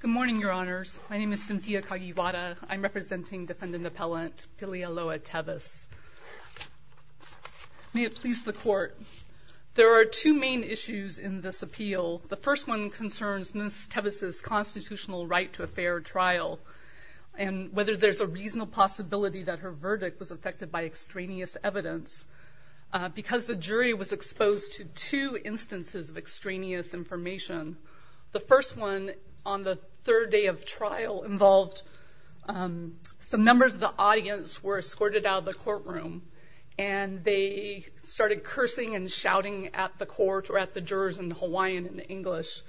Good morning, Your Honors. My name is Cynthia Kagiwata. I'm representing defendant appellant Pilialoha Teves. May it please the Court, there are two main issues in this appeal. The first one concerns Ms. Teves' constitutional right to a fair trial and whether there's a reasonable possibility that her verdict was affected by extraneous evidence because the jury was exposed to two instances of extraneous information. The first one on the third day of trial involved some members of the audience were escorted out of the courtroom and they started cursing and shouting at the court or at the jurors in Hawaiian and English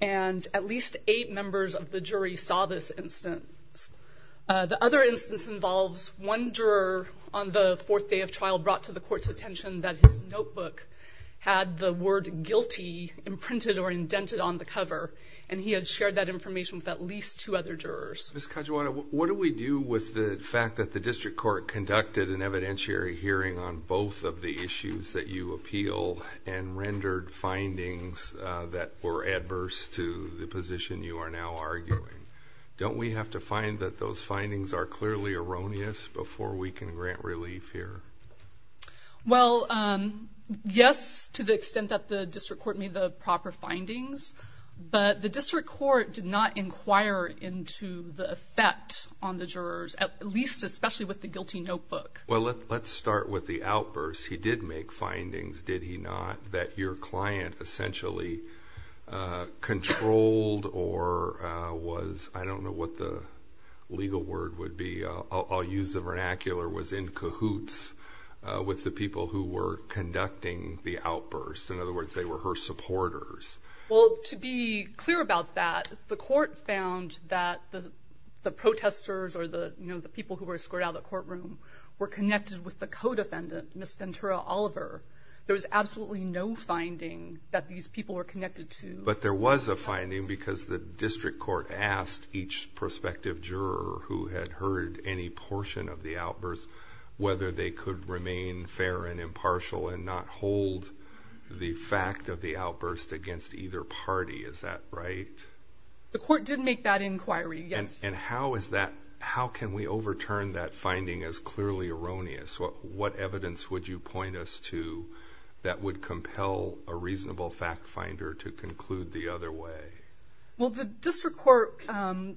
and at least eight members of the jury saw this instance. The other instance involves one juror on the fourth day of trial brought to the court's attention that his notebook had the word guilty imprinted or indented on the cover and he had shared that information with at least two other jurors. Ms. Kagiwata, what do we do with the fact that the district court conducted an evidentiary hearing on both of the issues that you appeal and rendered findings that were adverse to the position you are now arguing? Don't we have to find that those findings are clearly erroneous before we can grant relief here? Well, yes, to the extent that the district court made the proper findings, but the district court did not inquire into the effect on the jurors, at least especially with the guilty notebook. Well, let's start with the outbursts. He did make findings, did he not, that your client essentially controlled or was, I don't know what the legal word would be, I'll use the vernacular, was in cahoots with the people who were conducting the outbursts. In other words, they were her supporters. Well, to be clear about that, the court found that the protesters or the people who were escorted out of the courtroom were connected with the co-defendant, Ms. Ventura Oliver. There was absolutely no finding that these people were connected to. But there was a finding because the district court asked each prospective juror who had heard any portion of the outbursts whether they could remain fair and impartial and not hold the fact of the outbursts against either party. Is that right? The court did make that inquiry, yes. And how can we overturn that finding as clearly erroneous? What evidence would you point us to that would compel a reasonable fact finder to conclude the other way? Well, the district court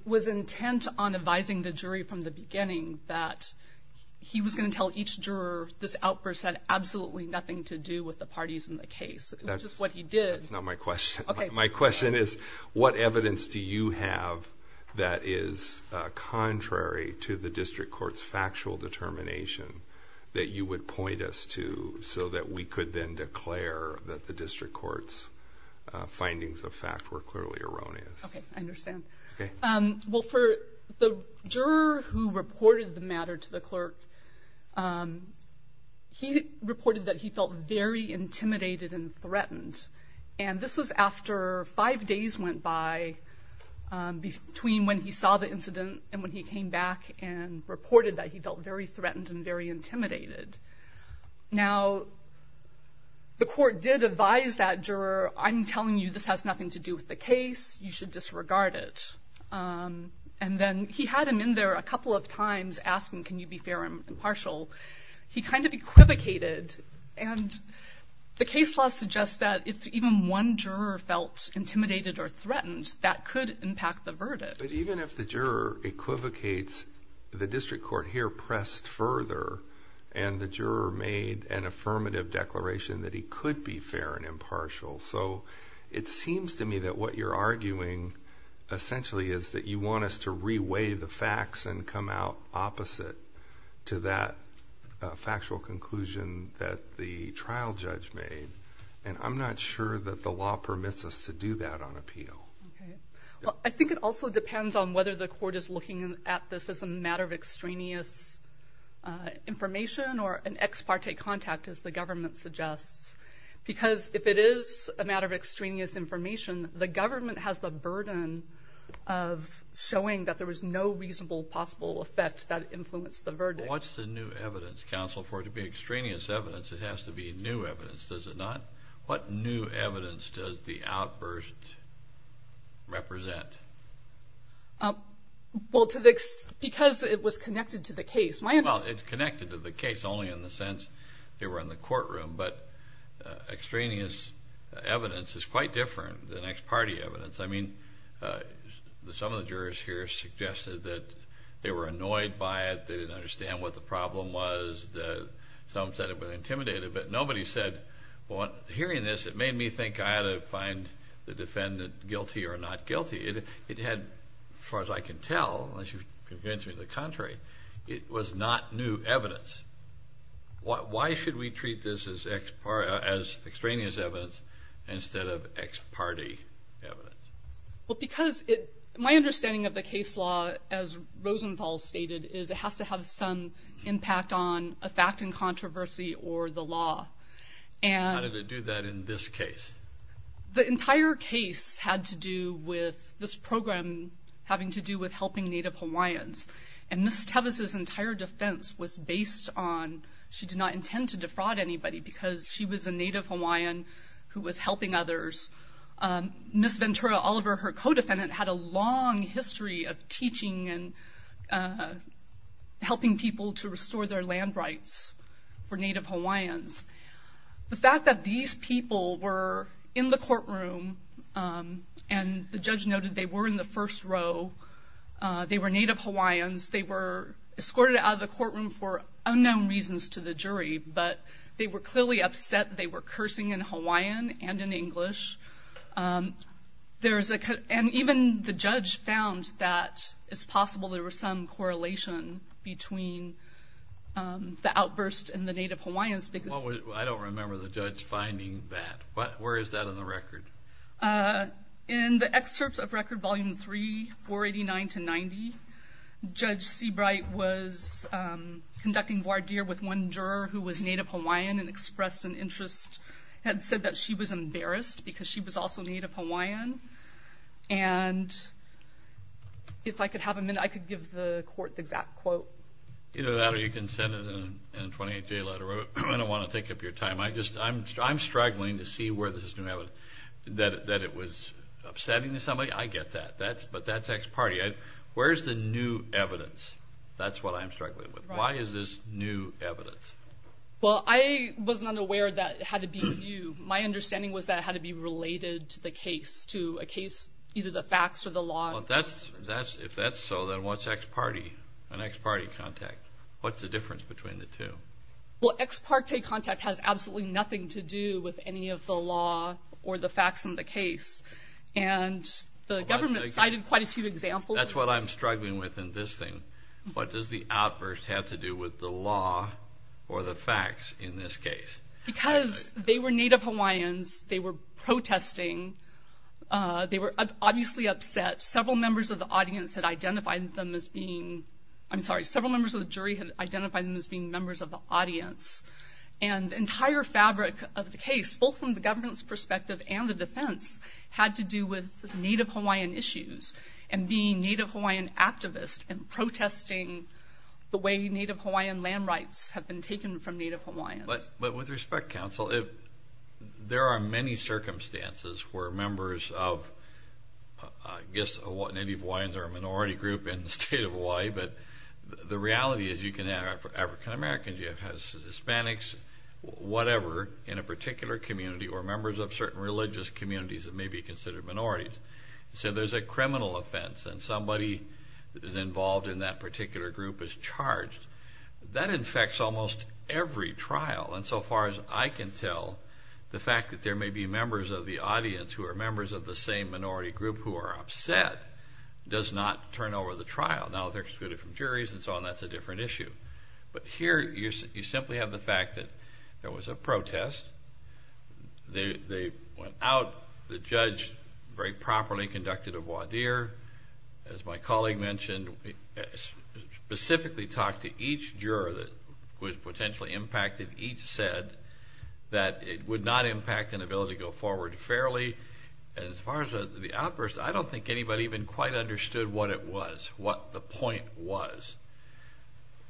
was intent on advising the jury from the beginning that he was going to tell each juror this outburst had absolutely nothing to do with the parties in the case, which is what he did. That's not my question. Okay. My question is, what evidence do you have that is contrary to the district court's factual determination that you would point us to so that we could then declare that the district court's findings of fact were clearly erroneous? Okay, I understand. Okay. Well, for the juror who reported the matter to the clerk, he reported that he felt very intimidated and threatened. And this was after five days went by between when he saw the incident and when he came back and reported that he felt very threatened and very intimidated. Now, the court did advise that juror, I'm telling you this has nothing to do with the case. You should disregard it. And then he had him in there a couple of times asking, can you be fair and impartial. He kind of equivocated, and the case law suggests that if even one juror felt intimidated or threatened, that could impact the verdict. But even if the juror equivocates, the district court here pressed further, and the juror made an affirmative declaration that he could be fair and impartial. So it seems to me that what you're arguing essentially is that you want us to reweigh the facts and come out opposite to that factual conclusion that the trial judge made. And I'm not sure that the law permits us to do that on appeal. Okay. Well, I think it also depends on whether the court is looking at this as a matter of extraneous information or an ex parte contact, as the government suggests. Because if it is a matter of extraneous information, the government has the burden of showing that there was no reasonable possible effect that influenced the verdict. Well, what's the new evidence, counsel, for it to be extraneous evidence? It has to be new evidence, does it not? What new evidence does the outburst represent? Well, because it was connected to the case. Well, it's connected to the case only in the sense they were in the courtroom. But extraneous evidence is quite different than ex parte evidence. I mean, some of the jurors here suggested that they were annoyed by it. They didn't understand what the problem was. Some said it was intimidating. But nobody said, well, hearing this, it made me think I ought to find the defendant guilty or not guilty. It had, as far as I can tell, unless you convince me to the contrary, it was not new evidence. Why should we treat this as extraneous evidence instead of ex parte evidence? Well, because my understanding of the case law, as Rosenthal stated, is it has to have some impact on a fact in controversy or the law. How did it do that in this case? The entire case had to do with this program having to do with helping Native Hawaiians. And Ms. Teves' entire defense was based on she did not intend to defraud anybody because she was a Native Hawaiian who was helping others. Ms. Ventura Oliver, her co-defendant, had a long history of teaching and helping people to restore their land rights for Native Hawaiians. The fact that these people were in the courtroom, and the judge noted they were in the first row, they were Native Hawaiians, they were escorted out of the courtroom for unknown reasons to the jury, but they were clearly upset that they were cursing in Hawaiian and in English. And even the judge found that it's possible there was some correlation between the outburst and the Native Hawaiians. I don't remember the judge finding that. Where is that in the record? In the excerpts of Record Volume 3, 489 to 90, Judge Seabright was conducting voir dire with one juror who was Native Hawaiian and expressed an interest and said that she was embarrassed because she was also Native Hawaiian. And if I could have a minute, I could give the court the exact quote. Either that or you can send it in a 28-day letter. I don't want to take up your time. I'm struggling to see where this is new evidence. That it was upsetting to somebody, I get that, but that's ex parte. Where's the new evidence? That's what I'm struggling with. Why is this new evidence? Well, I was not aware that it had to be new. My understanding was that it had to be related to the case, to a case, either the facts or the law. If that's so, then what's ex parte, an ex parte contact? What's the difference between the two? Well, ex parte contact has absolutely nothing to do with any of the law or the facts in the case. And the government cited quite a few examples. That's what I'm struggling with in this thing. What does the outburst have to do with the law or the facts in this case? Because they were Native Hawaiians, they were protesting, they were obviously upset. Several members of the audience had identified them as being, I'm sorry, several members of the jury had identified them as being members of the audience. And the entire fabric of the case, both from the government's perspective and the defense, had to do with Native Hawaiian issues and being Native Hawaiian activists and protesting the way Native Hawaiian land rights have been taken from Native Hawaiians. But with respect, counsel, there are many circumstances where members of, I guess, Native Hawaiians are a minority group in the state of Hawaii, but the reality is you can have African Americans, you have Hispanics, whatever, in a particular community or members of certain religious communities that may be considered minorities. So there's a criminal offense, and somebody that is involved in that particular group is charged. That infects almost every trial. And so far as I can tell, the fact that there may be members of the audience who are members of the same minority group who are upset does not turn over the trial. Now they're excluded from juries and so on, that's a different issue. But here you simply have the fact that there was a protest, they went out, the judge very properly conducted a voir dire, as my colleague mentioned, specifically talked to each juror who was potentially impacted, each said that it would not impact an ability to go forward fairly. And as far as the outburst, I don't think anybody even quite understood what it was, what the point was.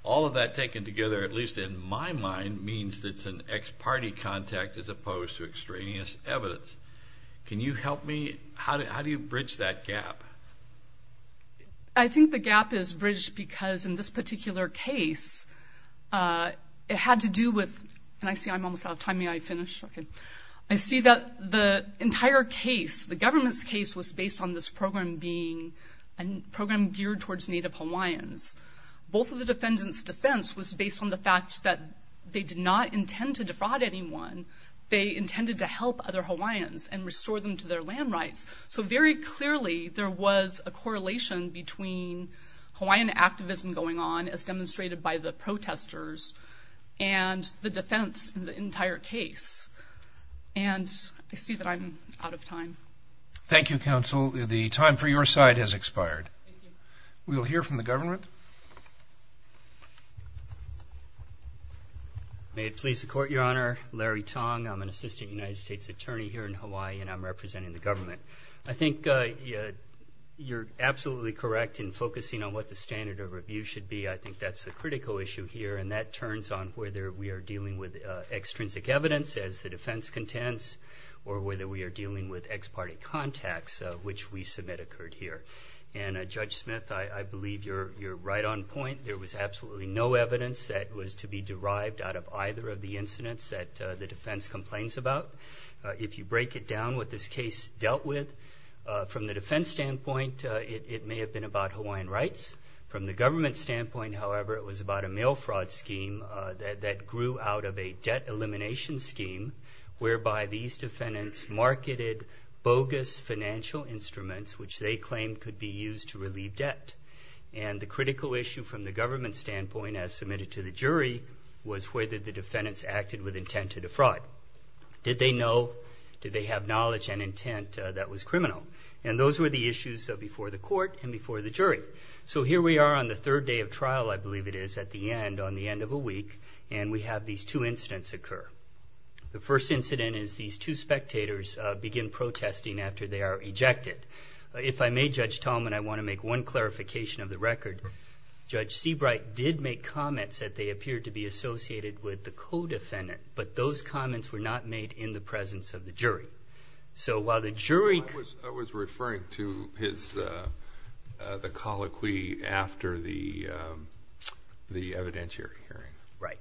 All of that taken together, at least in my mind, means that it's an ex parte contact as opposed to extraneous evidence. Can you help me? How do you bridge that gap? I think the gap is bridged because in this particular case, it had to do with, and I see I'm almost out of time, may I finish? Okay. I see that the entire case, the government's case, was based on this program being, a program geared towards Native Hawaiians. Both of the defendants' defense was based on the fact that they did not intend to defraud anyone, they intended to help other Hawaiians and restore them to their land rights. So very clearly, there was a correlation between Hawaiian activism going on, as demonstrated by the protesters, and the defense in the entire case. And I see that I'm out of time. Thank you, counsel. The time for your side has expired. Thank you. We will hear from the government. May it please the court, Your Honor, Larry Tong. I'm an assistant United States attorney here in Hawaii, and I'm representing the government. I think you're absolutely correct in focusing on what the standard of review should be. I think that's a critical issue here, and that turns on whether we are dealing with extrinsic evidence, as the defense contends, or whether we are dealing with ex parte contacts, which we submit occurred here. And Judge Smith, I believe you're right on point. There was absolutely no evidence that was to be derived out of either of the incidents that the defense complains about. If you break it down, what this case dealt with, from the defense standpoint, it may have been about Hawaiian rights. From the government standpoint, however, it was about a mail fraud scheme that grew out of a debt elimination scheme, whereby these defendants marketed bogus financial instruments, which they claimed could be used to relieve debt. And the critical issue from the government standpoint, as submitted to the jury, was whether the defendants acted with intent to defraud. Did they know? Did they have knowledge and intent that was criminal? And those were the issues before the court and before the jury. So here we are on the third day of trial, I believe it is, at the end, on the end of a week, and we have these two incidents occur. The first incident is these two spectators begin protesting after they are ejected. If I may, Judge Tallman, I want to make one clarification of the record. Judge Seabright did make comments that they appeared to be associated with the co-defendant, but those comments were not made in the presence of the jury. So while the jury – I was referring to the colloquy after the evidentiary hearing. Right.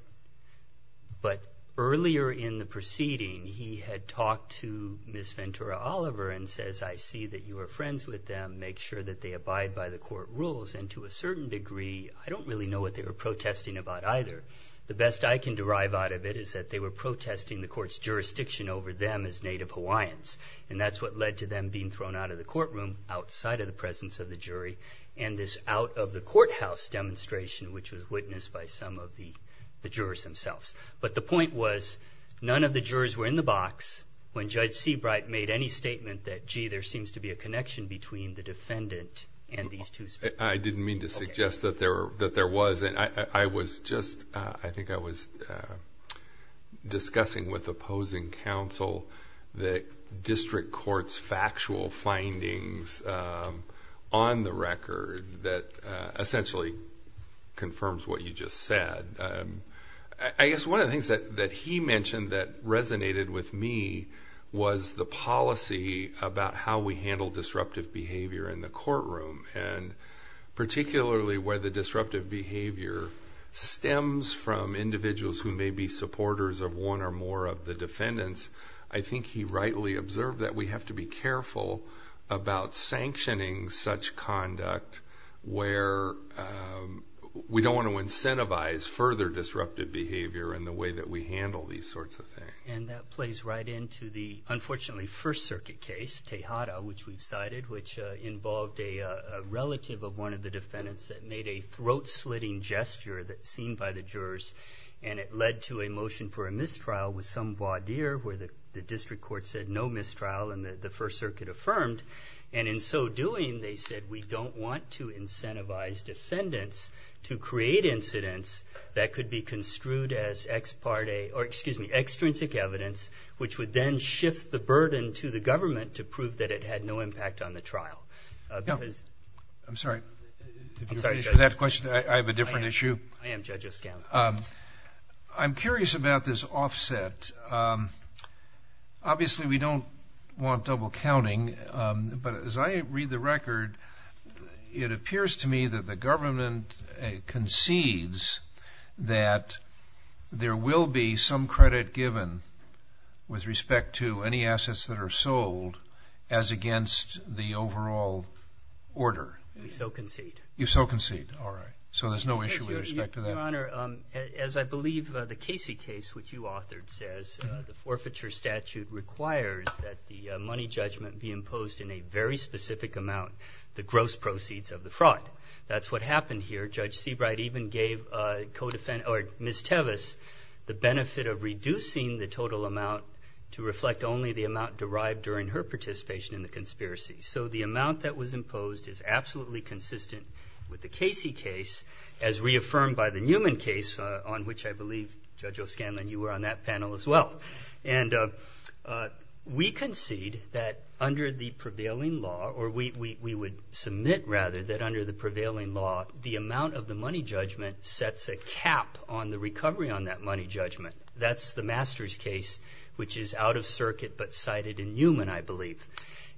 But earlier in the proceeding, he had talked to Ms. Ventura Oliver and says, I see that you are friends with them. Make sure that they abide by the court rules. And to a certain degree, I don't really know what they were protesting about either. The best I can derive out of it is that they were protesting the court's jurisdiction over them as Native Hawaiians, and that's what led to them being thrown out of the courtroom outside of the presence of the jury and this out-of-the-courthouse demonstration, which was witnessed by some of the jurors themselves. But the point was, none of the jurors were in the box. When Judge Seabright made any statement that, gee, there seems to be a connection between the defendant and these two speakers. I didn't mean to suggest that there was. I was just – I think I was discussing with opposing counsel the district court's factual findings on the record that essentially confirms what you just said. I guess one of the things that he mentioned that resonated with me was the policy about how we handle disruptive behavior in the courtroom, and particularly where the disruptive behavior stems from individuals who may be supporters of one or more of the defendants. I think he rightly observed that we have to be careful about sanctioning such conduct where we don't want to incentivize further disruptive behavior in the way that we handle these sorts of things. And that plays right into the, unfortunately, First Circuit case, Tejada, which we've cited, which involved a relative of one of the defendants that made a throat-slitting gesture that seemed by the jurors, and it led to a motion for a mistrial with some voir dire where the district court said no mistrial and the First Circuit affirmed. And in so doing, they said we don't want to incentivize defendants to create incidents that could be construed as extrinsic evidence, which would then shift the burden to the government to prove that it had no impact on the trial. I'm sorry. I'm sorry, Judge. If you're finished with that question, I have a different issue. I am, Judge O'Scanlan. I'm curious about this offset. Obviously, we don't want double counting, but as I read the record, it appears to me that the government concedes that there will be some credit given with respect to any assets that are sold as against the overall order. We so concede. You so concede. All right. So there's no issue with respect to that. Your Honor, as I believe the Casey case, which you authored, says, the forfeiture statute requires that the money judgment be imposed in a very specific amount, the gross proceeds of the fraud. That's what happened here. Judge Seabright even gave Ms. Tevis the benefit of reducing the total amount to reflect only the amount derived during her participation in the conspiracy. So the amount that was imposed is absolutely consistent with the Casey case, as reaffirmed by the Newman case, on which I believe, Judge O'Scanlan, you were on that panel as well. And we concede that under the prevailing law, or we would submit, rather, that under the prevailing law, the amount of the money judgment sets a cap on the recovery on that money judgment. That's the Masters case, which is out of circuit but cited in Newman, I believe.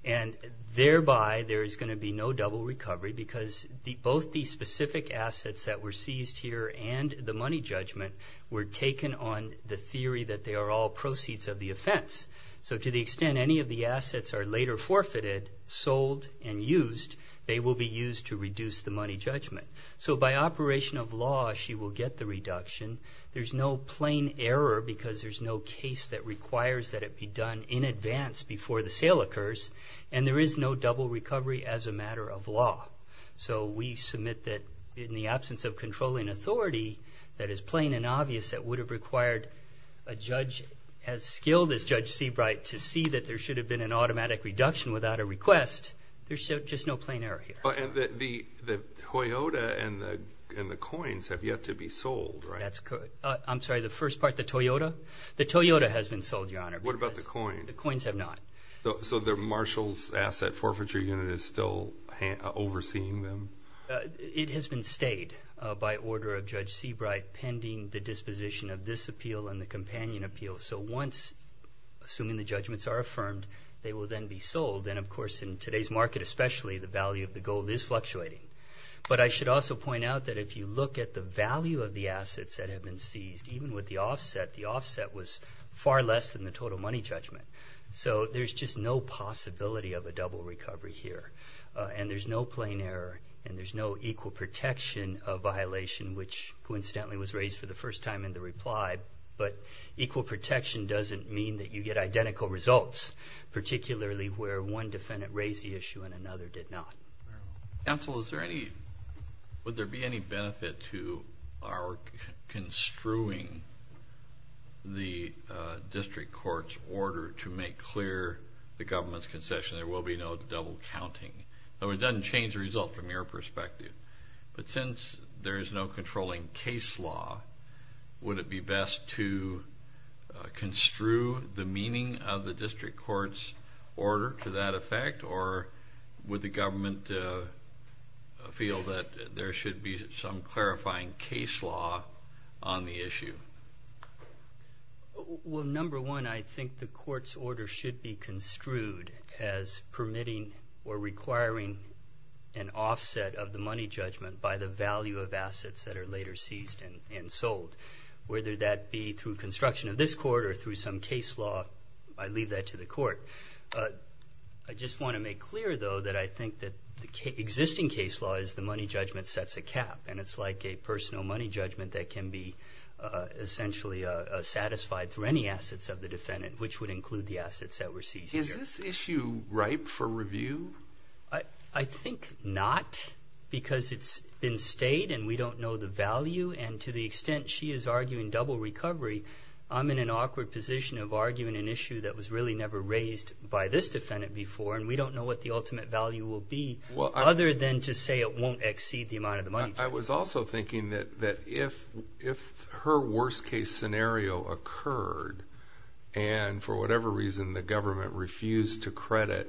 And thereby, there is going to be no double recovery because both the specific assets that were seized here and the money judgment were taken on the theory that they are all proceeds of the offense. So to the extent any of the assets are later forfeited, sold, and used, they will be used to reduce the money judgment. So by operation of law, she will get the reduction. There's no plain error because there's no case that requires that it be done in advance before the sale occurs, and there is no double recovery as a matter of law. So we submit that in the absence of controlling authority that is plain and obvious that would have required a judge as skilled as Judge Seabright to see that there should have been an automatic reduction without a request, there's just no plain error here. And the Toyota and the coins have yet to be sold, right? That's correct. I'm sorry, the first part, the Toyota? The Toyota has been sold, Your Honor. What about the coin? The coins have not. So the Marshall's Asset Forfeiture Unit is still overseeing them? It has been stayed by order of Judge Seabright pending the disposition of this appeal and the companion appeal. So once, assuming the judgments are affirmed, they will then be sold. And, of course, in today's market especially, the value of the gold is fluctuating. But I should also point out that if you look at the value of the assets that have been seized, even with the offset, the offset was far less than the total money judgment. So there's just no possibility of a double recovery here. And there's no plain error and there's no equal protection of violation, which coincidentally was raised for the first time in the reply. But equal protection doesn't mean that you get identical results, particularly where one defendant raised the issue and another did not. Counsel, would there be any benefit to our construing the district court's order to make clear the government's concession? There will be no double counting. So it doesn't change the result from your perspective. But since there is no controlling case law, would it be best to construe the meaning of the district court's order to that effect or would the government feel that there should be some clarifying case law on the issue? Well, number one, I think the court's order should be construed as permitting or requiring an offset of the money judgment by the value of assets that are later seized and sold. Whether that be through construction of this court or through some case law, I leave that to the court. I just want to make clear, though, that I think that the existing case law is the money judgment sets a cap and it's like a personal money judgment that can be essentially satisfied through any assets of the defendant, which would include the assets that were seized. Is this issue ripe for review? I think not because it's been stayed and we don't know the value and to the extent she is arguing double recovery, I'm in an awkward position of arguing an issue that was really never raised by this defendant before and we don't know what the ultimate value will be other than to say it won't exceed the amount of the money judgment. I was also thinking that if her worst case scenario occurred and for whatever reason the government refused to credit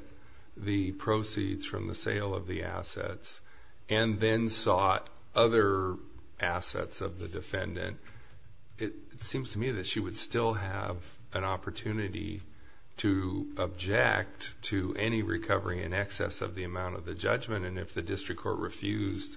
the proceeds from the sale of the assets and then sought other assets of the defendant, it seems to me that she would still have an opportunity to object to any recovery in excess of the amount of the judgment and if the district court refused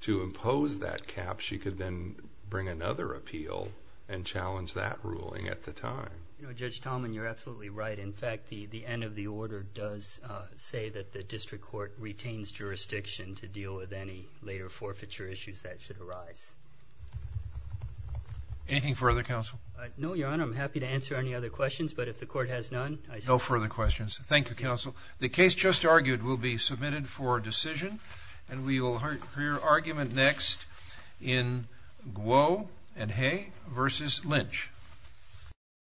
to impose that cap, she could then bring another appeal and challenge that ruling at the time. Judge Tallman, you're absolutely right. In fact, the end of the order does say that the district court retains jurisdiction to deal with any later forfeiture issues that should arise. Anything further, Counsel? No, Your Honor. I'm happy to answer any other questions, but if the court has none, I say... No further questions. Thank you, Counsel. The case just argued will be submitted for decision and we will hear argument next in Guo and Hay v. Lynch.